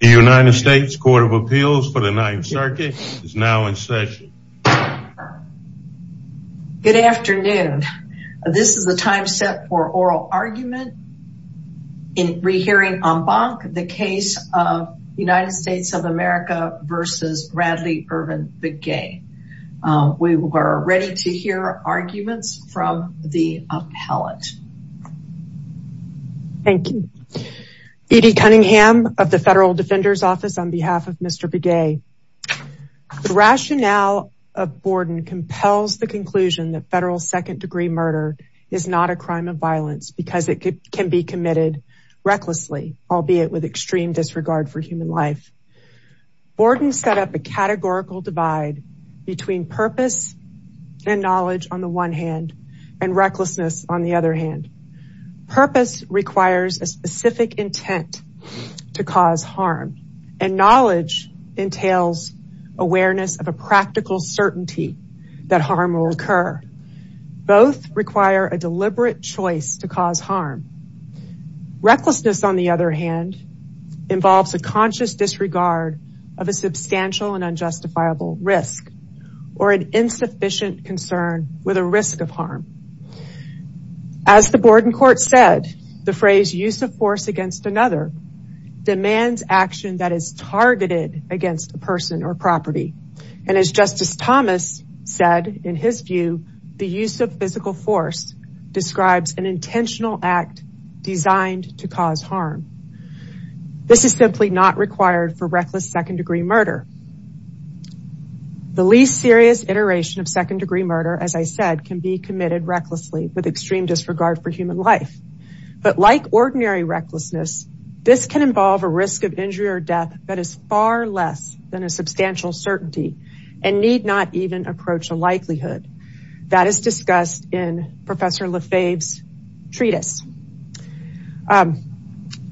The United States Court of Appeals for the Ninth Circuit is now in session. Good afternoon. This is the time set for oral argument in re-hearing en banc, the case of United States of America v. Randly Irvin Begay. We are ready to hear arguments from the appellate. Thank you. Edie Cunningham of the Federal Defender's Office on behalf of Mr. Begay. The rationale of Borden compels the conclusion that federal second degree murder is not a crime of violence because it can be committed recklessly, albeit with extreme disregard for human life. Borden set up a categorical divide between purpose and knowledge on the one hand and recklessness on the other hand. Purpose requires a specific intent to cause harm and knowledge entails awareness of a practical certainty that harm will occur. Both require a deliberate choice to cause harm. Recklessness on the other hand involves a risk of harm. As the Borden court said, the phrase use of force against another demands action that is targeted against a person or property. And as Justice Thomas said in his view, the use of physical force describes an intentional act designed to cause harm. This is simply not required for reckless second degree murder. The least serious iteration of second degree murder, as I said, can be committed recklessly with extreme disregard for human life. But like ordinary recklessness, this can involve a risk of injury or death that is far less than a substantial certainty and need not even approach a likelihood. That is discussed in Professor Lefebvre's treatise.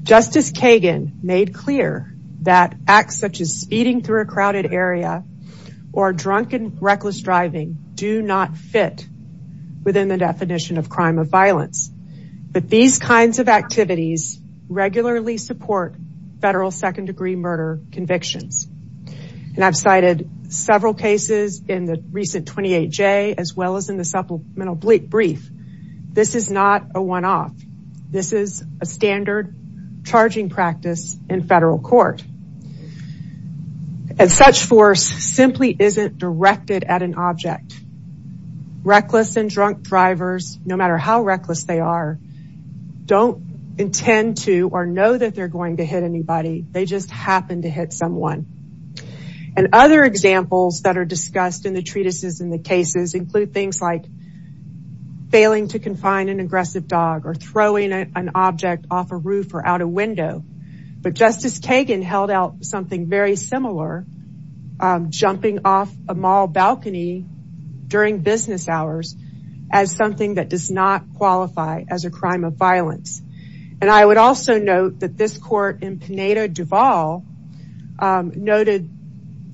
Justice Kagan made clear that acts such as speeding through a crowded area or drunken reckless driving do not fit within the definition of crime of violence. But these kinds of activities regularly support federal second degree murder convictions. And I've cited several cases in the recent 28J as well as in the supplemental brief. This is not a one-off. This is a standard charging practice in federal court. And such force simply isn't directed at an object. Reckless and drunk drivers, no matter how reckless they are, don't intend to or know that they're going to hit anybody. They just happen to hit someone. And other examples that are discussed in the treatises and the cases include things like failing to confine an aggressive dog or throwing an object off a roof or out a window. But Justice Kagan held out something very similar, jumping off a mall balcony during business hours as something that does not qualify as a crime of violence. And I would also note that this court in Pineda Duval noted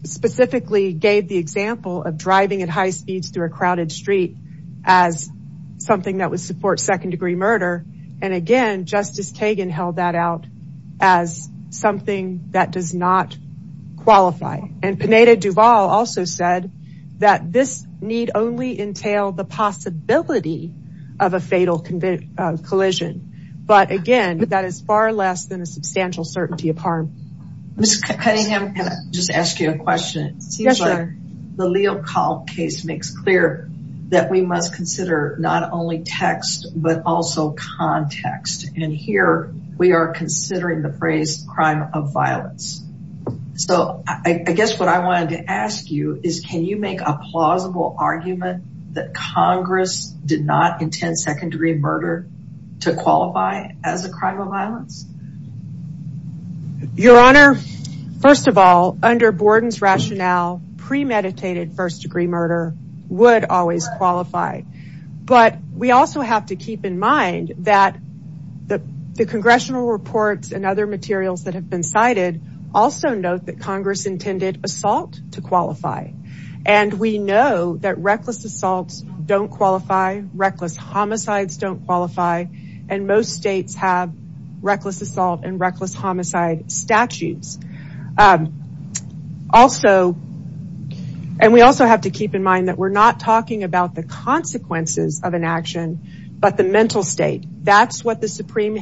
specifically gave the example of driving at high speeds through a crowded street as something that would support second degree murder. And again, Justice Kagan held that out as something that does not qualify. And Pineda Duval also said that this need only entail the possibility of a fatal collision. But again, that is far less than a substantial certainty of harm. Ms. Cunningham, can I just ask you a question? It seems like the Leo Kahl case makes clear that we must consider not only text, but also context. And here we are considering the phrase crime of violence. So I guess what I wanted to ask you is, can you make a plausible argument that Congress did not intend second degree murder to qualify as a crime of violence? Your Honor, first of all, under Borden's rationale, premeditated first degree murder would always qualify. But we also have to keep in mind that the congressional reports and other materials that have been cited also note that Congress intended assault to qualify. And we know that reckless assaults don't qualify, reckless homicides don't qualify, and most states have reckless assault and reckless homicide statutes. Also, and we also have to keep in mind that we're not talking about the consequences of an action, but the mental state. That's what the Supreme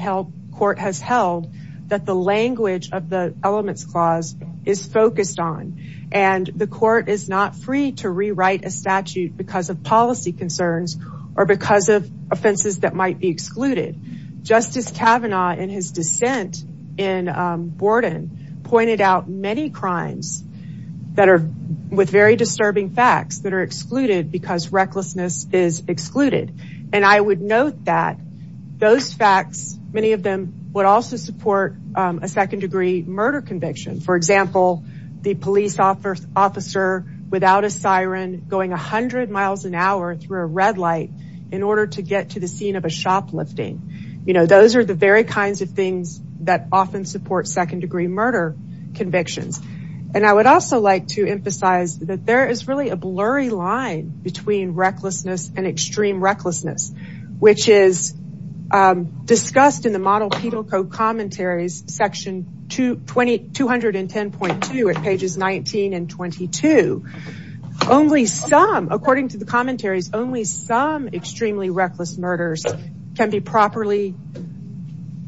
Court has held, that the language of the Elements Clause is focused on. And the court is not free to rewrite a statute because of policy concerns, or because of offenses that might be excluded. Justice Kavanaugh in his dissent in Borden pointed out many crimes that are with very disturbing facts that are excluded because recklessness is excluded. And I would note that those facts, many of them would also support a second degree murder conviction. For example, the police officer without a siren going 100 miles an hour through a red light in order to get to the scene of a shoplifting. Those are the very kinds of things that often support second degree murder convictions. And I would also like to emphasize that there is really a blurry line between recklessness and extreme recklessness, which is discussed in the model penal code commentaries section 210.2 at pages 19 and 22. Only some, according to the commentaries, only some extremely reckless murders can be properly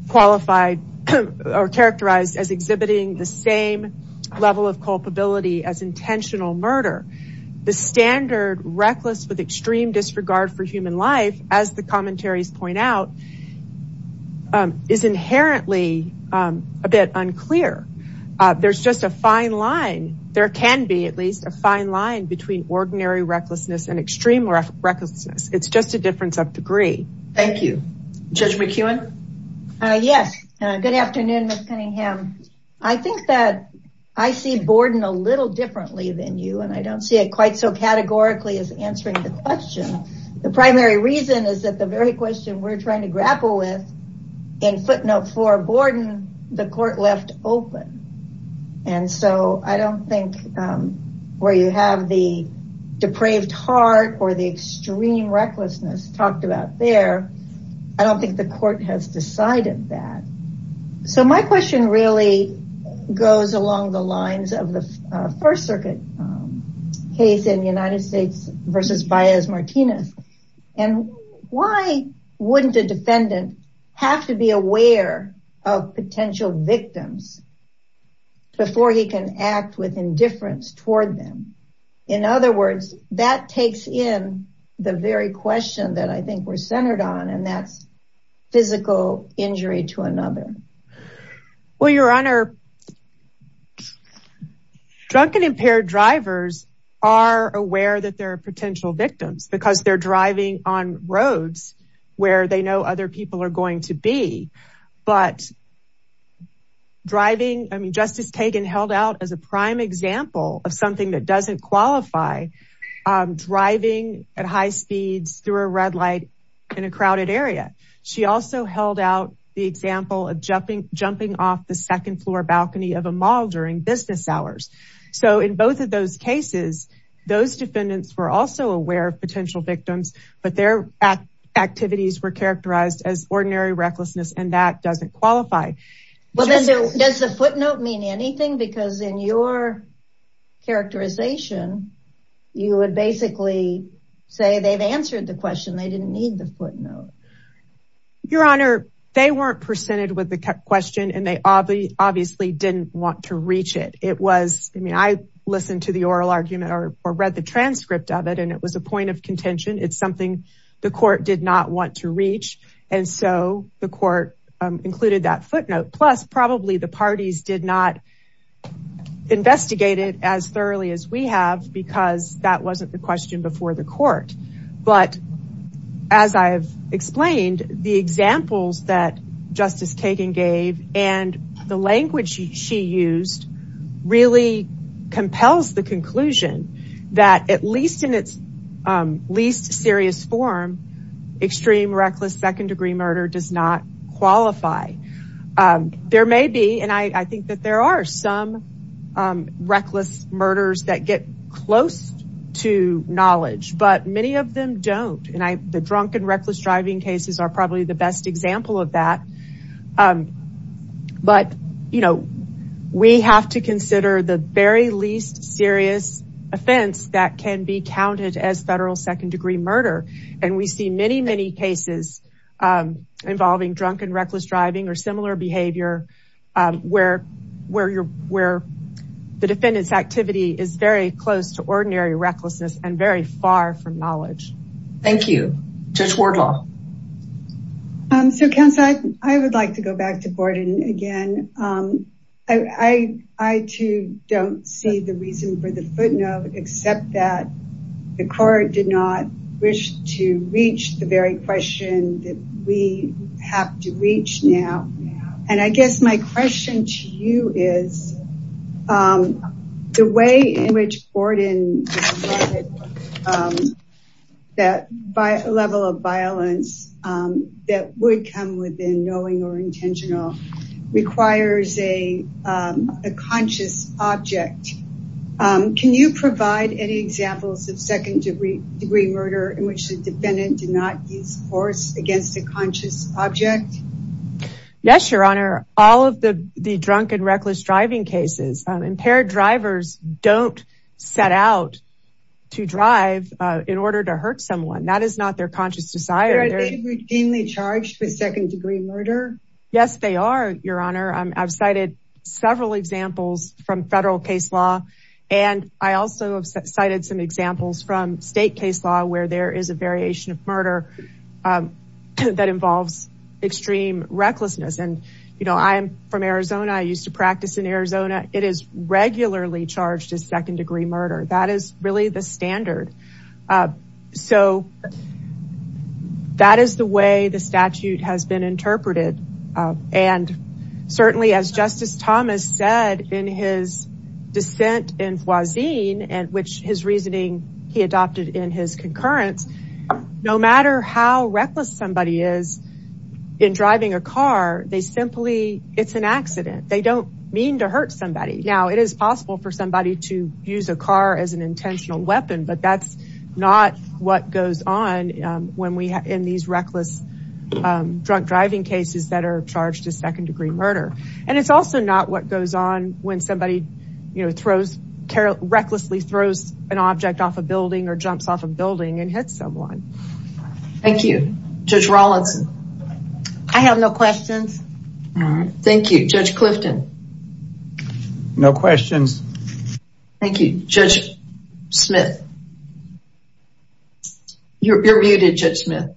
qualified or characterized as exhibiting the same level of culpability as intentional murder. The standard reckless with extreme disregard for human life, as the commentaries point out, is inherently a bit unclear. There's just a fine line. There can be at least a fine line between ordinary recklessness and extreme recklessness. It's just a difference of degree. Thank you. Judge McEwen? Yes. Good afternoon, Ms. Cunningham. I think that I see Borden a little differently than you, and I don't see it quite so categorically as answering the question. The primary reason is that the very question we're trying to grapple with, in footnote four, Borden, the court left open. And so I don't think where you have the I don't think the court has decided that. So my question really goes along the lines of the First Circuit case in the United States versus Baez-Martinez. And why wouldn't a defendant have to be aware of potential victims before he can act with indifference toward them? In other words, that takes in the very question that I think we're centered on, and that's physical injury to another. Well, Your Honor, drunken impaired drivers are aware that there are potential victims because they're driving on roads where they know other people are going to be. But driving, I mean, Justice Kagan held out a prime example of something that doesn't qualify driving at high speeds through a red light in a crowded area. She also held out the example of jumping off the second floor balcony of a mall during business hours. So in both of those cases, those defendants were also aware of potential victims, but their activities were characterized as ordinary recklessness, and that doesn't qualify. Well, does the footnote mean anything? Because in your characterization, you would basically say they've answered the question. They didn't need the footnote. Your Honor, they weren't presented with the question, and they obviously didn't want to reach it. It was, I mean, I listened to the oral argument or read the transcript of it, and it was a point of contention. It's something the court did not want to reach. And so the court included that footnote. Plus, probably the parties did not investigate it as thoroughly as we have because that wasn't the question before the court. But as I've explained, the examples that Justice Kagan gave and the language she used really compels the conclusion that at least in its least serious form, extreme reckless second degree murder does not qualify. There may be, and I think that there are some reckless murders that get close to knowledge, but many of them don't. And the drunken reckless driving cases are probably the best example of that. But we have to consider the very least serious offense that can be counted as federal second degree murder. And we see many, many cases involving drunken reckless driving or similar behavior where the defendant's activity is very close to ordinary recklessness and very far from the truth. I too don't see the reason for the footnote except that the court did not wish to reach the very question that we have to reach now. And I guess my question to you is, the way in which intentional requires a conscious object. Can you provide any examples of second degree murder in which the defendant did not use force against a conscious object? Yes, Your Honor. All of the drunken reckless driving cases, impaired drivers don't set out to drive in order to hurt someone. That is not their conscious desire. Are they routinely charged with second degree murder? Yes, they are, Your Honor. I've cited several examples from federal case law, and I also have cited some examples from state case law where there is a variation of murder that involves extreme recklessness. And I'm from Arizona. I used to practice in Arizona. It is regularly charged as second degree murder. That is really the standard. So that is the way the statute has been interpreted. And certainly, as Justice Thomas said in his dissent in Voisin, and which his reasoning he adopted in his concurrence, no matter how reckless somebody is in driving a car, they simply, it's an accident. They don't mean to hurt somebody. Now, it is possible for somebody to use a car as an intentional weapon, but that's not what goes on in these reckless drunk driving cases that are charged as second degree murder. And it's also not what goes on when somebody recklessly throws an object off a building or jumps off a building and hits someone. Thank you. Judge Rawlinson. I have no questions. Thank you. Judge Clifton. No questions. Thank you. Judge Smith. You're muted, Judge Smith.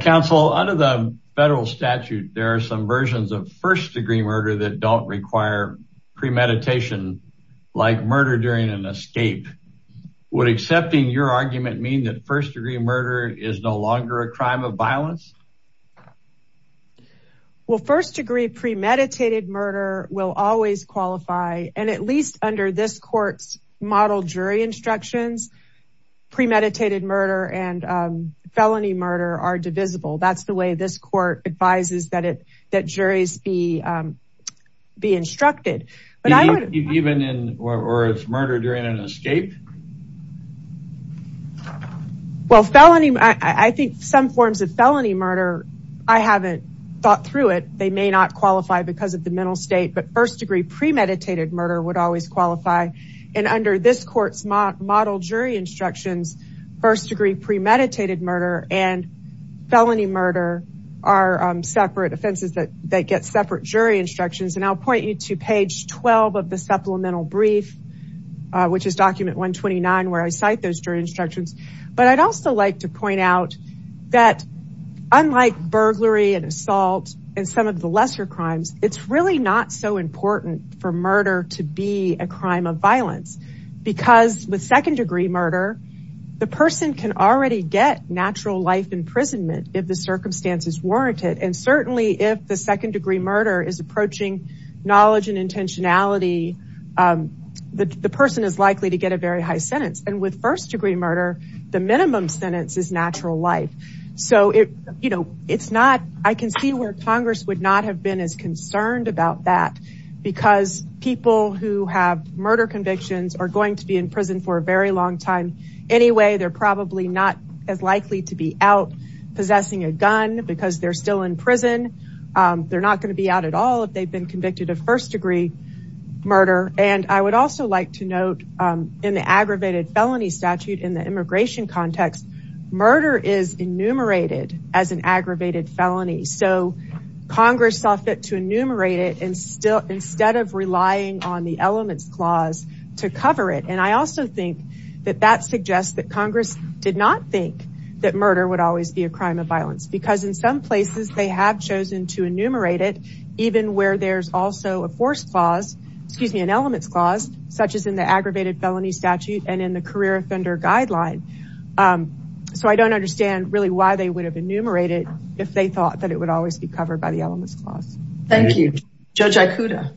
Counsel, under the federal statute, there are some versions of first degree murder that don't require premeditation like murder during an escape. Would accepting your argument mean that first degree murder is no longer a crime of violence? Well, first degree premeditated murder will always qualify, and at least under this court's model jury instructions, premeditated murder and felony murder are divisible. That's the way this court advises that it, that juries be instructed. But even in, or it's murder during an escape? Well, felony, I think some forms of felony murder, I haven't thought through it. They may not qualify because of the mental state, but first degree premeditated murder would always qualify. And under this court's model jury instructions, first degree premeditated murder and felony murder are separate offenses that get separate jury instructions. And I'll point you to page 12 of the supplemental brief, which is document 129, where I cite those jury instructions. But I'd also like to point out that unlike burglary and assault and some of the lesser crimes, it's really not so important for murder to be a crime of violence. Because with second degree murder, the person can already get natural life imprisonment if the circumstance is warranted. And certainly if the second degree murder is approaching knowledge and intentionality, the person is likely to get a very high sentence. And with first degree murder, the minimum sentence is natural life. So it's not, I can see where Congress would not have been as concerned about that because people who have murder convictions are going to be in prison for a very long time. Anyway, they're probably not as likely to be out possessing a gun because they're still in prison. They're not going to be out at all if they've been convicted of first degree murder. And I would also like to note in the aggravated felony statute in the immigration context, murder is enumerated as an aggravated felony. So Congress saw fit to enumerate it instead of relying on the elements clause to cover it. And I also think that that suggests that Congress did not think that murder would always be a crime of violence. Because in some places they have chosen to enumerate it, even where there's also a force clause, excuse me, an elements clause, such as in the aggravated felony statute and in the career offender guideline. So I don't understand really why they would have enumerated if they thought that it would always be covered by the elements clause. Thank you. Judge Ikuda.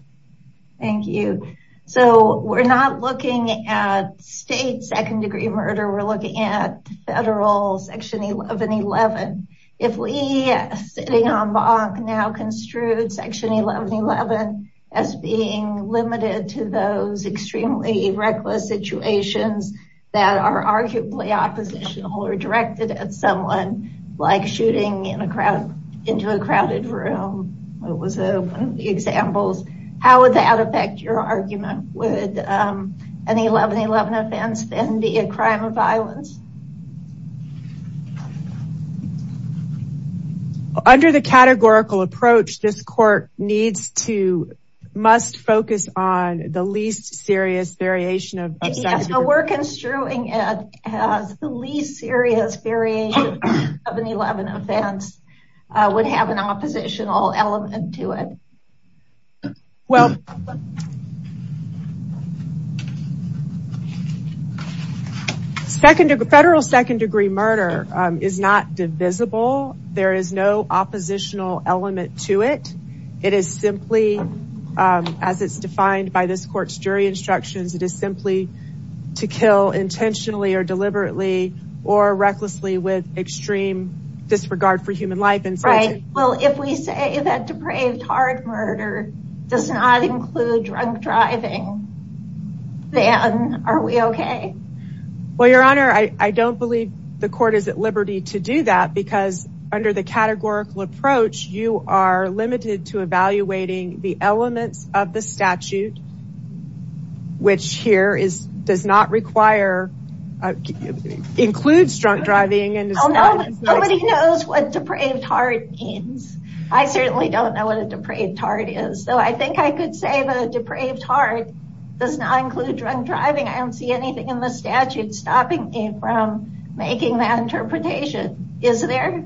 Thank you. So we're not looking at state second degree murder. We're looking at federal section 1111. If we sitting on bank now construed section 1111 as being limited to those extremely reckless situations that are arguably oppositional or directed at someone like shooting into a crowded room, it was one of the examples, how would that affect your argument? Would an 1111 offense then be a crime of violence? Under the categorical approach, this court needs to, must focus on the least serious variation of- Yes, so we're construing it as the least serious variation of an 11 offense would have an oppositional element to it. Well, the federal second degree murder is not divisible. There is no oppositional element to it. It is simply, as it's defined by this court's jury instructions, it is simply to kill intentionally or deliberately or recklessly with extreme disregard for human life. Right. Well, if we say that depraved hard murder does not include drunk driving, then are we okay? Well, your honor, I don't believe the court is at liberty to do that because under the categorical approach, you are limited to evaluating the elements of the statute, which here is, does not require, includes drunk driving. Nobody knows what depraved hard means. I certainly don't know what a depraved hard is. So I think I could say that a depraved hard does not include drunk driving. I don't see anything in the statute stopping me from making that interpretation. Is there?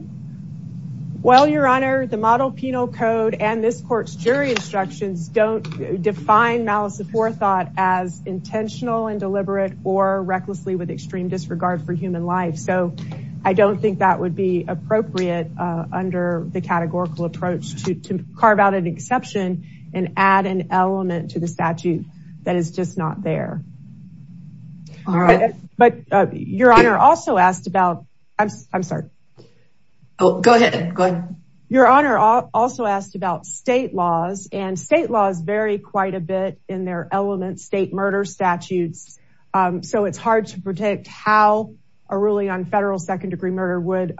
Well, your honor, the model penal code and this court's jury instructions don't define malice of forethought as intentional and deliberate or recklessly with extreme disregard for human life. So I don't think that would be appropriate under the just not there. But your honor also asked about, I'm sorry. Oh, go ahead. Go ahead. Your honor also asked about state laws and state laws vary quite a bit in their elements, state murder statutes. So it's hard to predict how a ruling on federal second degree murder would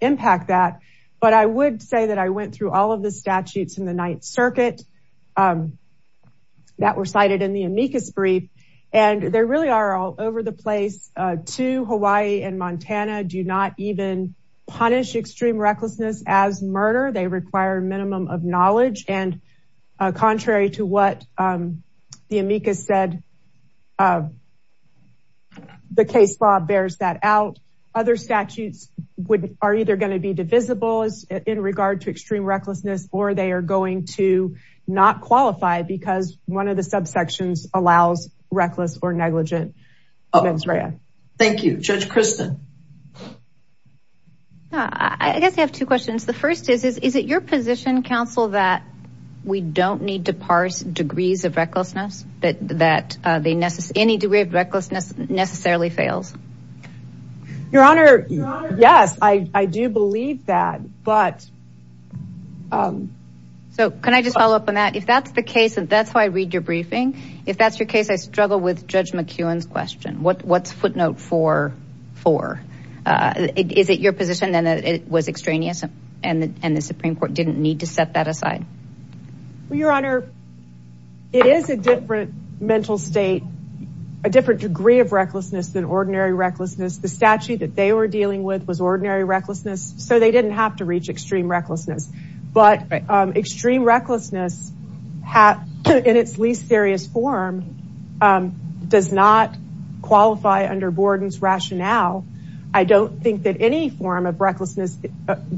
impact that. But I would say that I went through all of the statutes in the ninth circuit that were cited in the amicus brief. And there really are all over the place to Hawaii and Montana do not even punish extreme recklessness as murder. They require minimum of knowledge and contrary to what the amicus said, the case law bears that out. Other statutes would, are either going to be divisible as in regard to extreme recklessness, or they are going to not qualify because one of the subsections allows reckless or negligent. Thank you, Judge Kristen. I guess I have two questions. The first is, is it your position counsel that we don't need to parse degrees of recklessness that they necessarily, any degree of recklessness necessarily fails? Your honor. Yes, I do believe that, but. So can I just follow up on that? If that's the case, that's how I read your briefing. If that's your case, I struggle with Judge McEwen's question. What's footnote four, four? Is it your position then that it was extraneous and the Supreme Court didn't need to set that aside? Your honor, it is a different mental state, a different degree of recklessness than ordinary recklessness. The statute that they were dealing with was ordinary recklessness. So they didn't have to reach extreme recklessness, but extreme recklessness in its least serious form does not qualify under Borden's rationale. I don't think that any form of recklessness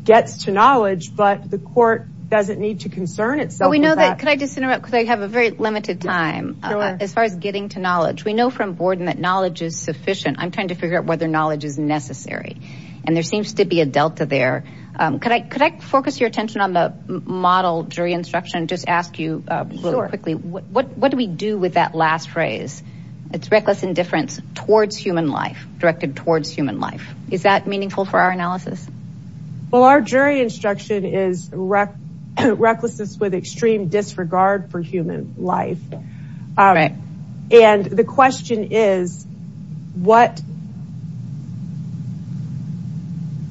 gets to knowledge, but the court doesn't need to concern itself with that. Could I just interrupt? Because I have a very limited time as far as getting to knowledge. We know from Borden that knowledge is sufficient. I'm trying to figure out whether knowledge is sufficient. Could I focus your attention on the model jury instruction and just ask you what do we do with that last phrase? It's reckless indifference towards human life, directed towards human life. Is that meaningful for our analysis? Well, our jury instruction is recklessness with extreme disregard for human life. All right. And the question is,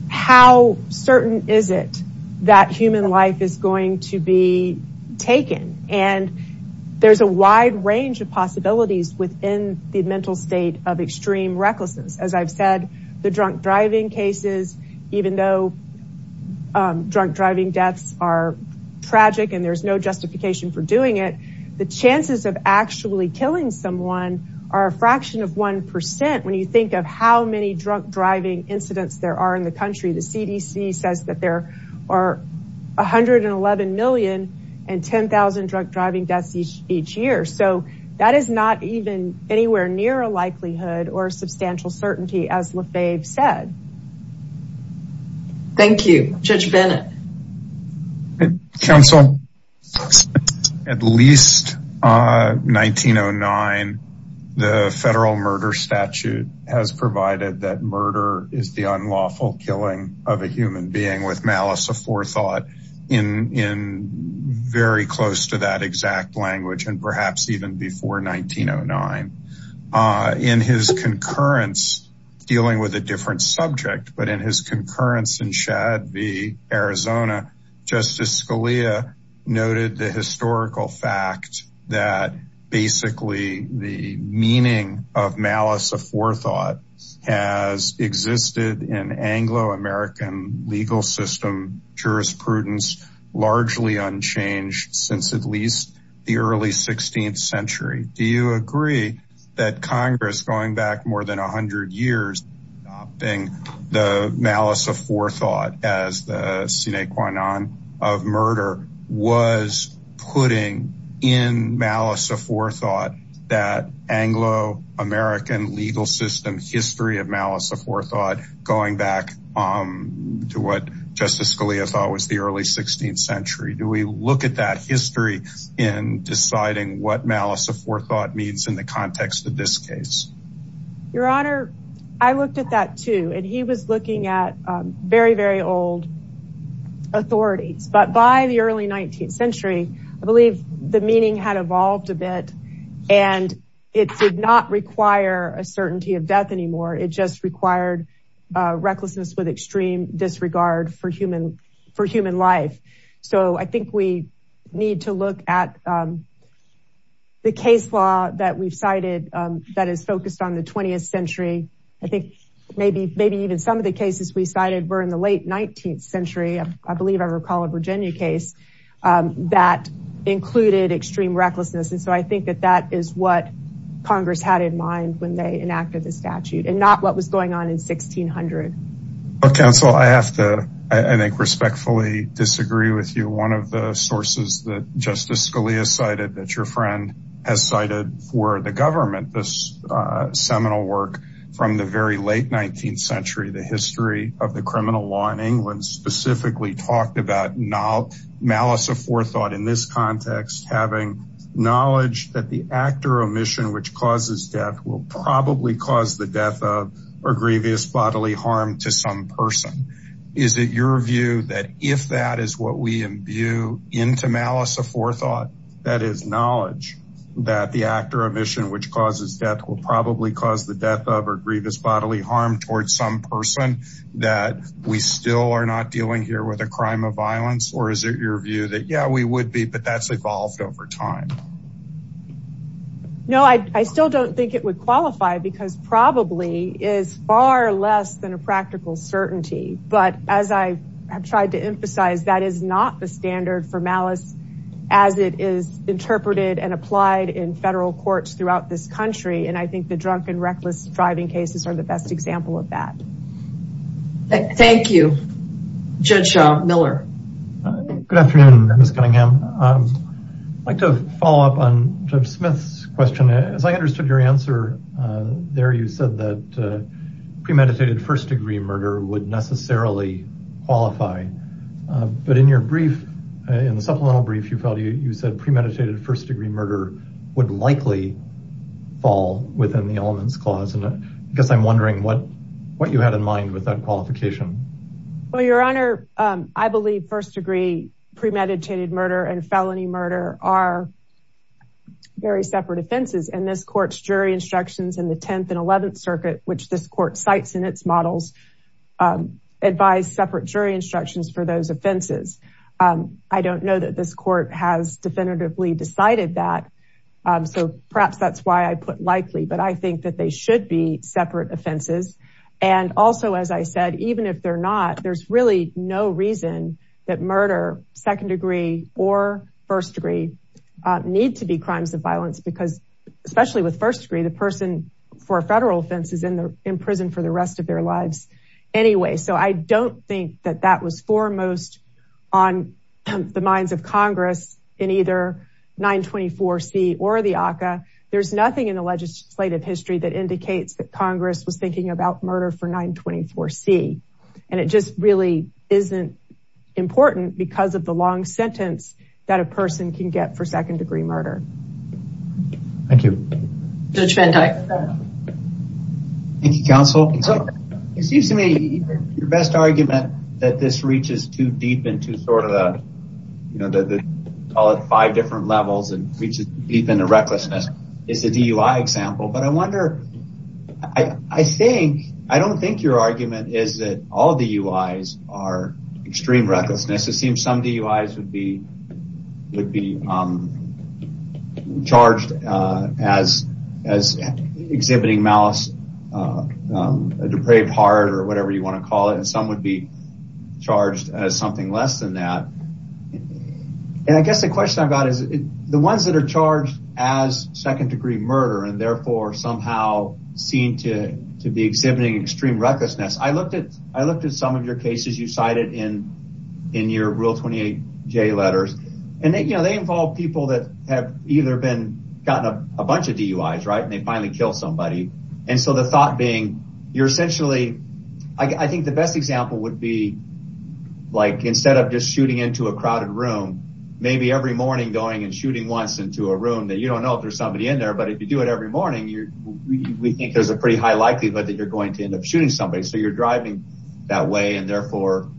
how certain is it that human life is going to be taken? And there's a wide range of possibilities within the mental state of extreme recklessness. As I've said, the drunk driving cases, even though drunk driving deaths are tragic and there's no killing someone are a fraction of 1%. When you think of how many drunk driving incidents there are in the country, the CDC says that there are 111 million and 10,000 drunk driving deaths each year. So that is not even anywhere near a likelihood or substantial certainty as LaFave said. Thank you. Judge Bennett. At least 1909, the federal murder statute has provided that murder is the unlawful killing of a human being with malice aforethought in very close to that exact language and perhaps even before 1909. In his concurrence, dealing with a different subject, but in his concurrence in Arizona, Justice Scalia noted the historical fact that basically the meaning of malice aforethought has existed in Anglo-American legal system jurisprudence largely unchanged since at least the early 16th century. Do you agree that Congress going back more than a hundred years adopting the malice aforethought as the sine qua non of murder was putting in malice aforethought that Anglo-American legal system history of malice aforethought going back to what Justice Scalia thought was the early 16th century? Do we look at that history in deciding what he was looking at very, very old authorities, but by the early 19th century, I believe the meaning had evolved a bit and it did not require a certainty of death anymore. It just required recklessness with extreme disregard for human life. So I think we need to look at the case law that we've cited that is focused on the 20th century. I think maybe even some of the cases we cited were in the late 19th century. I believe I recall a Virginia case that included extreme recklessness. And so I think that that is what Congress had in mind when they enacted the statute and not what was going on in 1600. Well, counsel, I have to, I think respectfully disagree with you. One of the sources that Justice Scalia cited that your friend has cited for the government, this seminal work from the very late 19th century, the history of the criminal law in England specifically talked about malice aforethought in this context, having knowledge that the actor omission, which causes death will probably cause the death of or grievous bodily harm to some person. Is it your view that if that is what we imbue into malice aforethought, that is knowledge that the actor omission, which causes death will probably cause the death of or grievous bodily harm towards some person, that we still are not dealing here with a crime of violence? Or is it your view that, yeah, we would be, but that's evolved over time? No, I still don't think it would qualify because probably is far less than a practical certainty. But as I have tried to emphasize, that is not the standard for malice as it is interpreted and applied in federal courts throughout this country. And I think the drunk and reckless driving cases are the best example of that. Thank you. Judge Miller. Good afternoon, Ms. Cunningham. I'd like to follow up on Judge Smith's question. As I understood your answer there, you said that premeditated first degree murder would necessarily qualify. But in your brief, in the supplemental brief, you said premeditated first degree murder would likely fall within the elements clause. And I guess I'm wondering what you had in mind with that first degree premeditated murder and felony murder are very separate offenses. And this court's jury instructions in the 10th and 11th circuit, which this court cites in its models, advise separate jury instructions for those offenses. I don't know that this court has definitively decided that. So perhaps that's why I put likely, but I think that they should be that murder, second degree or first degree need to be crimes of violence because especially with first degree, the person for a federal offense is in prison for the rest of their lives. Anyway, so I don't think that that was foremost on the minds of Congress in either 924C or the ACCA. There's nothing in the legislative history that indicates that Congress was thinking about important because of the long sentence that a person can get for second degree murder. Thank you. Judge Van Dyke. Thank you, counsel. So it seems to me your best argument that this reaches too deep into sort of the, you know, the call it five different levels and reaches deep into recklessness is the DUI example. But I wonder, I think, I don't think your argument is that all the UIs are extreme recklessness. It seems some DUIs would be charged as exhibiting malice, a depraved heart or whatever you want to call it, and some would be charged as something less than that. And I guess the question I've got is the ones that are charged as second degree murder and therefore somehow seem to be exhibiting extreme recklessness. I looked at some of your cases you cited in your Rule 28J letters, and they involve people that have either been gotten a bunch of DUIs, right, and they finally kill somebody. And so the thought being you're essentially, I think the best example would be like instead of just shooting into a crowded room, maybe every morning going and shooting once into a room that you don't know if there's somebody in there. But if you do it every morning, we think there's a pretty high likelihood that you're going to end up shooting somebody. So you're driving that way and therefore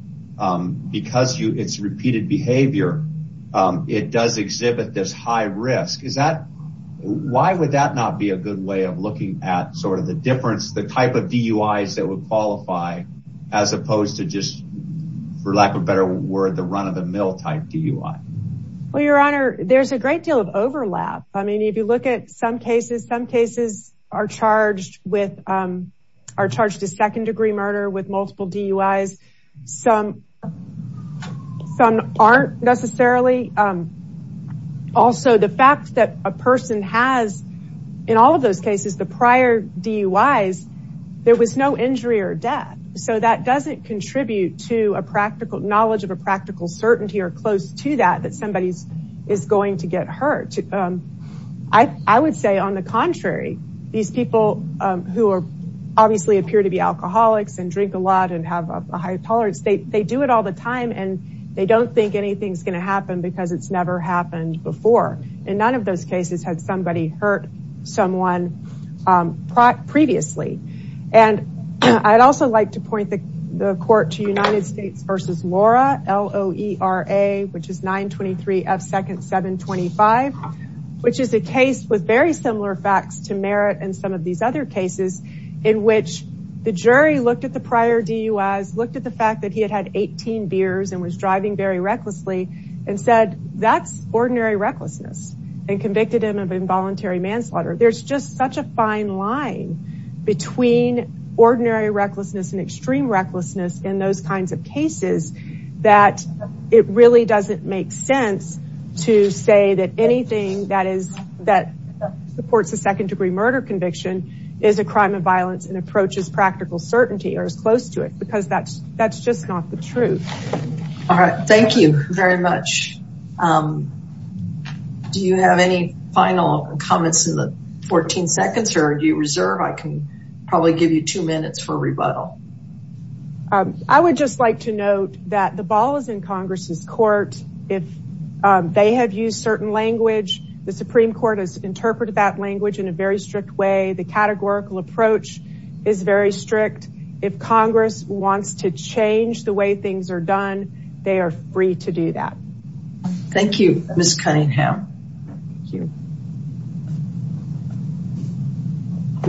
because it's repeated behavior, it does exhibit this high risk. Why would that not be a good way of looking at sort of the difference, the type of DUIs that would qualify as opposed to just, for lack of a better word, the run-of-the-mill type DUI? Well, Your Honor, there's a great deal of overlap. I mean, if you look at some cases, some cases are charged with, are charged a second degree murder with multiple DUIs. Some aren't necessarily. Also, the fact that a person has, in all of those cases, the prior DUIs, there was no injury or death. So that doesn't contribute to knowledge of a practical certainty or close to that, that somebody is going to get hurt. I would say on the contrary, these people who obviously appear to be alcoholics and drink a lot and have a high tolerance, they do it all the time and they don't think anything's going to happen because it's never happened before. And none of those cases had somebody hurt someone previously. And I'd also like to point the court to United States versus Laura, L-O-E-R-A, which is 923 F 2nd 725, which is a case with very similar facts to Merritt and some of these other cases in which the jury looked at the prior DUIs, looked at the fact that he had had 18 beers and was driving very recklessly and said, that's ordinary recklessness and convicted him of involuntary manslaughter. There's just such a fine line between ordinary recklessness and extreme recklessness in those kinds of cases that it really doesn't make sense to say that anything that supports a second degree murder conviction is a crime of violence and approaches practical certainty or is close to it, because that's just not the truth. All right. Thank you very much. Do you have any final comments in the 14 seconds or do you reserve? I can probably give you two minutes for rebuttal. I would just like to note that the ball is in Congress's court. If they have used certain language, the Supreme Court has interpreted that language in a very strict way. The categorical approach is very strict. If Congress wants to Thank you, Ms. Cunningham.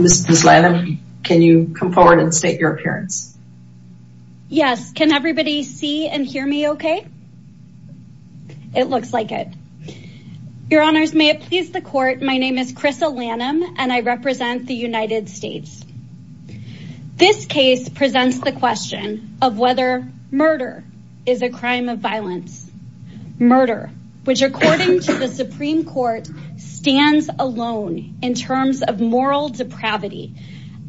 Ms. Lanham, can you come forward and state your appearance? Yes. Can everybody see and hear me okay? It looks like it. Your honors, may it please the court. My name is Krissa Lanham and I represent the United States. This case presents the question of whether murder is a crime of violence. Murder, which according to the Supreme Court, stands alone in terms of moral depravity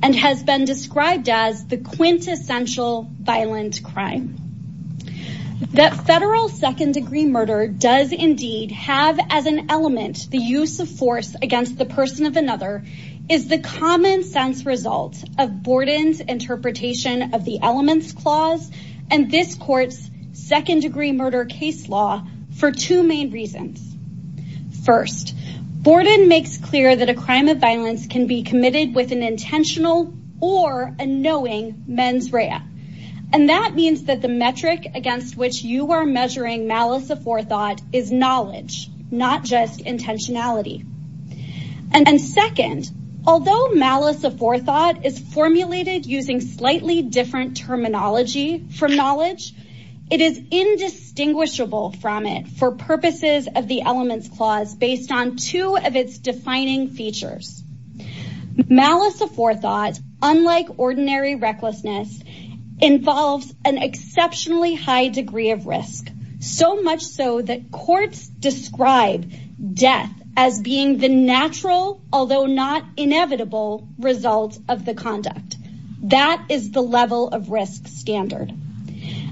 and has been described as the quintessential violent crime. That federal second degree murder does indeed have as an element the use of force against the person of another is the common sense result of Borden's interpretation of the clause and this court's second degree murder case law for two main reasons. First, Borden makes clear that a crime of violence can be committed with an intentional or a knowing mens rea and that means that the metric against which you are measuring malice aforethought is knowledge, not just intentionality. And second, although malice aforethought is formulated using slightly different terminology from knowledge, it is indistinguishable from it for purposes of the elements clause based on two of its defining features. Malice aforethought, unlike ordinary recklessness, involves an exceptionally high degree of risk, so much so that courts describe death as being the natural, although not inevitable, result of the conduct. That is the level of risk standard.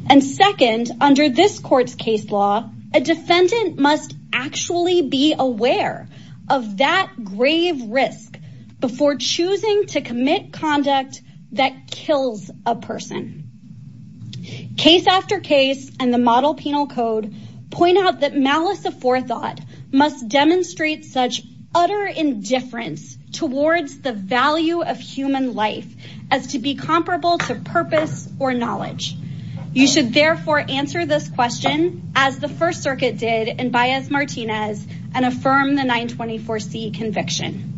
And second, under this court's case law, a defendant must actually be aware of that grave risk before choosing to commit conduct that kills a person. Case after case and the model penal code point out that malice aforethought must demonstrate such utter indifference towards the value of human life as to be comparable to purpose or knowledge. You should therefore answer this question as the First Circuit did in Baez-Martinez and affirm the 924C conviction.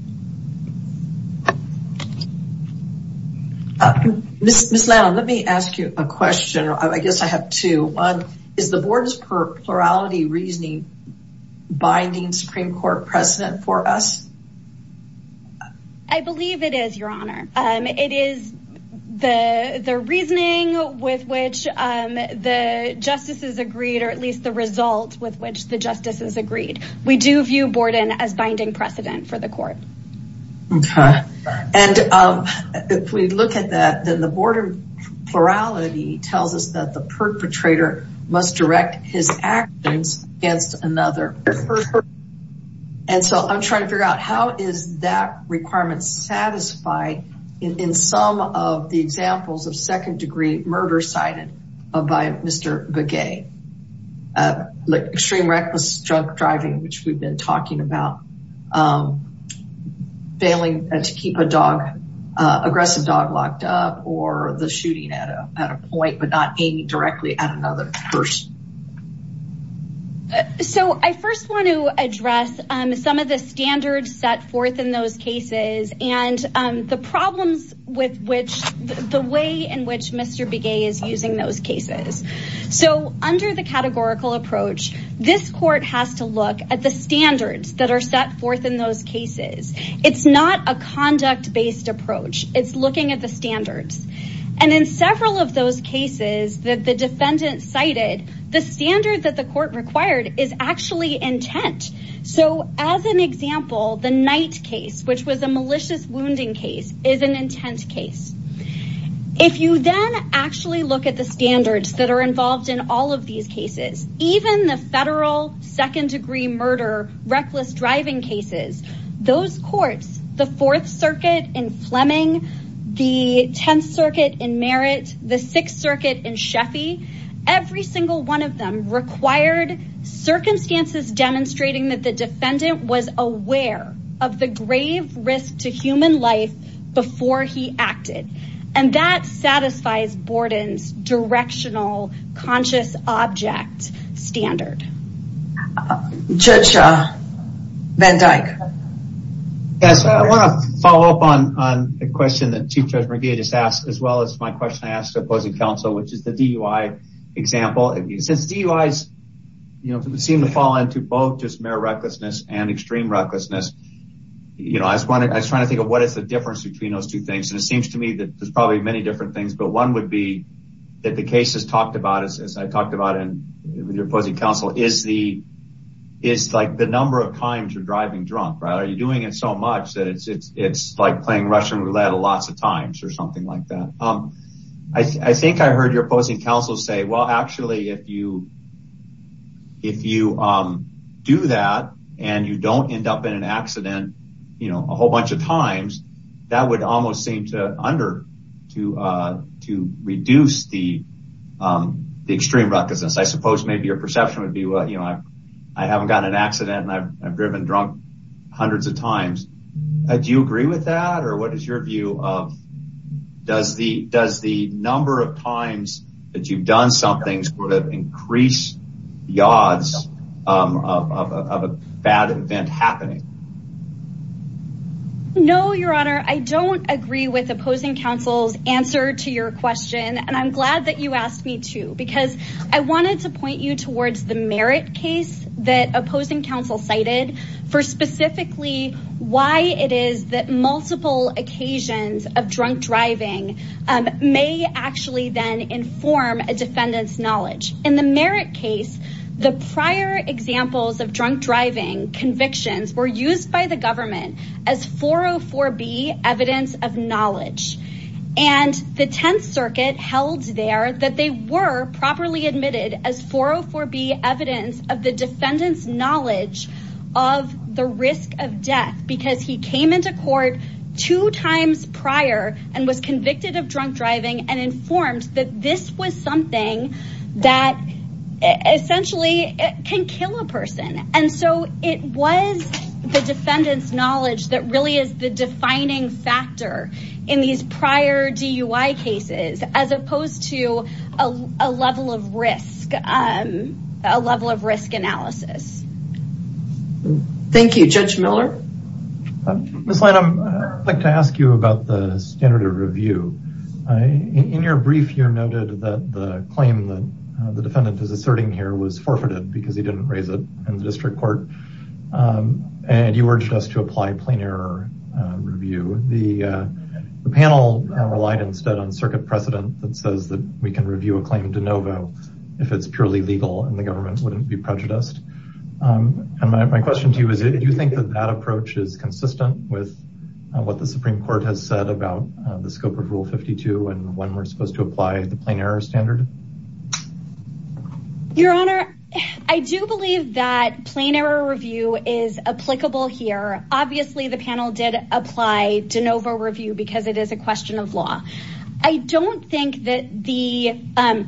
Ms. Lanham, let me ask you a question. I guess I have two. One, is the Board's plurality reasoning binding Supreme Court precedent for us? I believe it is, Your Honor. It is the reasoning with which the justices agreed, or at least the result with which the justices agreed. We do view Borden as binding precedent for the court. Okay. And if we look at that, then the Borden plurality tells us that the perpetrator must direct his actions against another. And so I'm trying to figure out how is that requirement satisfied in some of the examples of second degree murder cited by Mr. Begay, like extreme reckless drug driving, which we've been talking about, failing to keep a dog, aggressive dog locked up or the shooting at a point, but not aiming directly at another person. So I first want to address some of the standards set forth in those cases and the problems with which the way in which Mr. Begay is using those cases. So under the categorical approach, this court has to look at the standards that are set forth in those cases. It's not a conduct based approach. It's looking at the standards. And in several of those cases that the defendant cited, the standard that the court required is actually intent. So as an example, the Knight case, which was a malicious wounding case, is an intent case. If you then actually look at the standards that are involved in all of these cases, even the federal second degree murder, reckless driving cases, those courts, the fourth circuit in Fleming, the 10th circuit in Merritt, the sixth circuit in Sheffy, every single one of them required circumstances demonstrating that the defendant was aware of the grave risk to human life before he acted. And that satisfies Borden's directional conscious object standard. Judge Van Dyke. Yes, I want to follow up on the question that Chief Judge Begay just asked, as well as my question I asked the opposing counsel, which is the DUI example. Since DUIs seem to fall into both just mere recklessness and extreme recklessness, you know, I was trying to think of what is the difference between those two things, and it seems to me that there's probably many different things, but one would be that the cases talked about, as I talked about in your opposing counsel, is the number of times you're driving drunk, right? Are you doing it so much that it's like playing Russian roulette lots of times or something like that? I think I heard your opposing counsel say, well, actually, if you do that and you don't end up in an accident, you know, a whole bunch of times, that would almost seem to reduce the extreme recklessness. I suppose maybe your perception would be, well, you know, I haven't got an accident and I've driven drunk hundreds of times. Do you agree with that or what is your view of does the number of times that you've done something sort of increase the odds of a bad event happening? No, your honor, I don't agree with opposing counsel's answer to your question, and I'm glad that you asked me to because I wanted to point you towards the merit case that opposing counsel cited for specifically why it is that multiple occasions of drunk driving may actually then form a defendant's knowledge. In the merit case, the prior examples of drunk driving convictions were used by the government as 404B evidence of knowledge. And the 10th circuit held there that they were properly admitted as 404B evidence of the defendant's knowledge of the risk of death because he came into court two times prior and was convicted of drunk driving and informed that this was something that essentially can kill a person. And so it was the defendant's knowledge that really is the defining factor in these prior DUI cases as opposed to a level of risk, a level of risk analysis. Thank you. Judge Miller. Ms. Lanham, I'd like to ask you about the standard of review. In your brief, you noted that the claim that the defendant is asserting here was forfeited because he didn't raise it in the district court, and you urged us to apply plain error review. The panel relied instead on circuit precedent that says that we can review a claim de novo if it's purely legal and the government is consistent with what the Supreme Court has said about the scope of Rule 52 and when we're supposed to apply the plain error standard. Your Honor, I do believe that plain error review is applicable here. Obviously, the panel did apply de novo review because it is a question of law. I don't think that the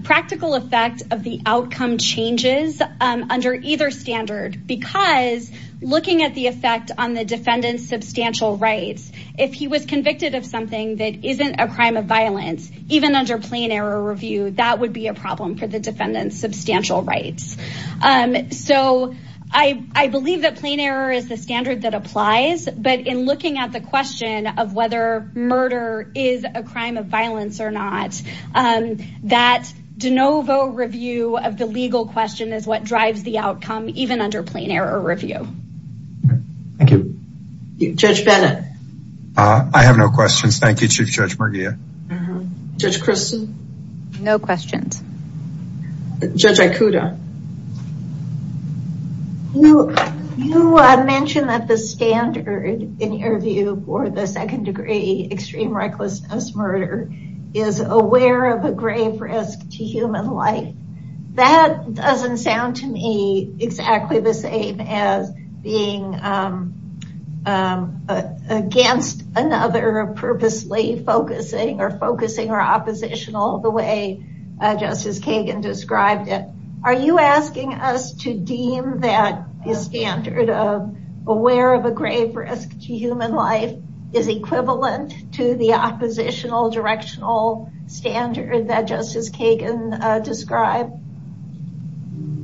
practical effect of the outcome changes under either standard because looking at the effect on the defendant's substantial rights, if he was convicted of something that isn't a crime of violence, even under plain error review, that would be a problem for the defendant's substantial rights. So I believe that plain error is the standard that applies, but in looking at the question of whether murder is a crime of violence or not, that de novo review of the legal question is what drives the outcome, even under plain error review. Thank you. Judge Bennett. I have no questions. Thank you, Chief Judge Murgia. Judge Christen. No questions. Judge Ikuda. You mentioned that the standard in your view for the second degree extreme recklessness murder is aware of a grave risk to human life. That doesn't sound to me exactly the same as being against another purposely focusing or focusing or oppositional the way Justice Kagan described it. Are you asking us to deem that standard of aware of a grave risk to human life is equivalent to the oppositional directional standard that Justice Kagan described?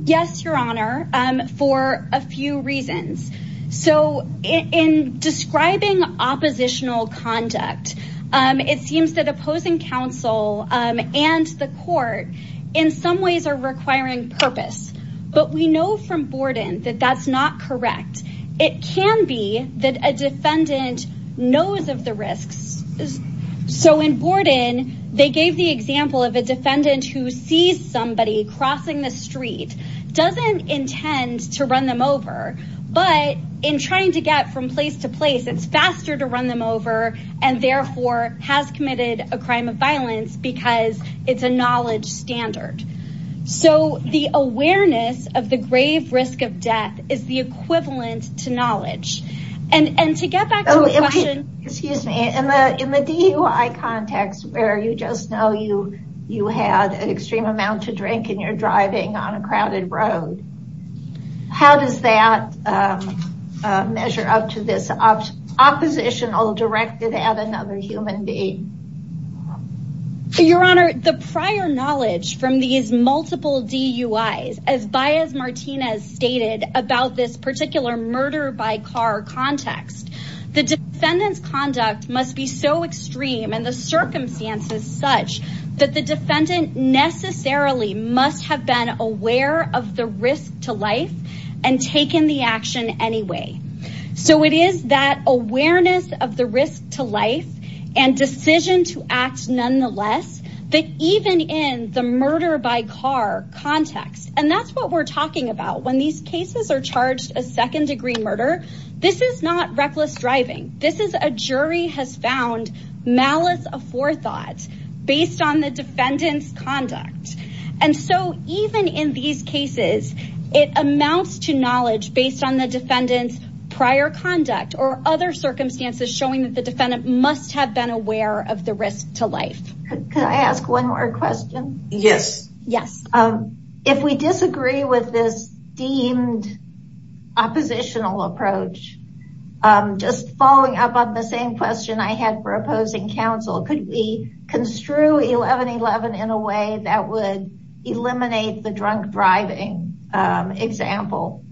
Yes, Your Honor, for a few reasons. So in describing oppositional conduct, it seems that opposing counsel and the court in some ways are requiring purpose, but we know from Borden that that's not correct. It can be that a defendant knows of the risks. So in Borden, they gave the example of a defendant who sees somebody crossing the street, doesn't intend to run them over, but in trying to get from place to place, it's faster to run them over and therefore has committed a crime of violence because it's a knowledge standard. So the awareness of the grave risk of death is the equivalent to knowledge. And to get back to the question... Excuse me. In the DUI context where you just know you had an extreme amount to drink and you're driving on a crowded road, how does that measure up to this oppositional directed at another human being? Your Honor, the prior knowledge from the multiple DUIs, as Baez Martinez stated about this particular murder by car context, the defendant's conduct must be so extreme and the circumstances such that the defendant necessarily must have been aware of the risk to life and taken the action anyway. So it is that awareness of the risk to life and decision to act nonetheless, that even in the murder by car context, and that's what we're talking about. When these cases are charged a second degree murder, this is not reckless driving. This is a jury has found malice of forethought based on the defendant's conduct. And so even in these cases, it amounts to knowledge based on the defendant's prior conduct or other circumstances showing that must have been aware of the risk to life. Could I ask one more question? Yes. Yes. If we disagree with this deemed oppositional approach, just following up on the same question I had for opposing counsel, could we construe 1111 in a way that would eliminate the drunk driving example?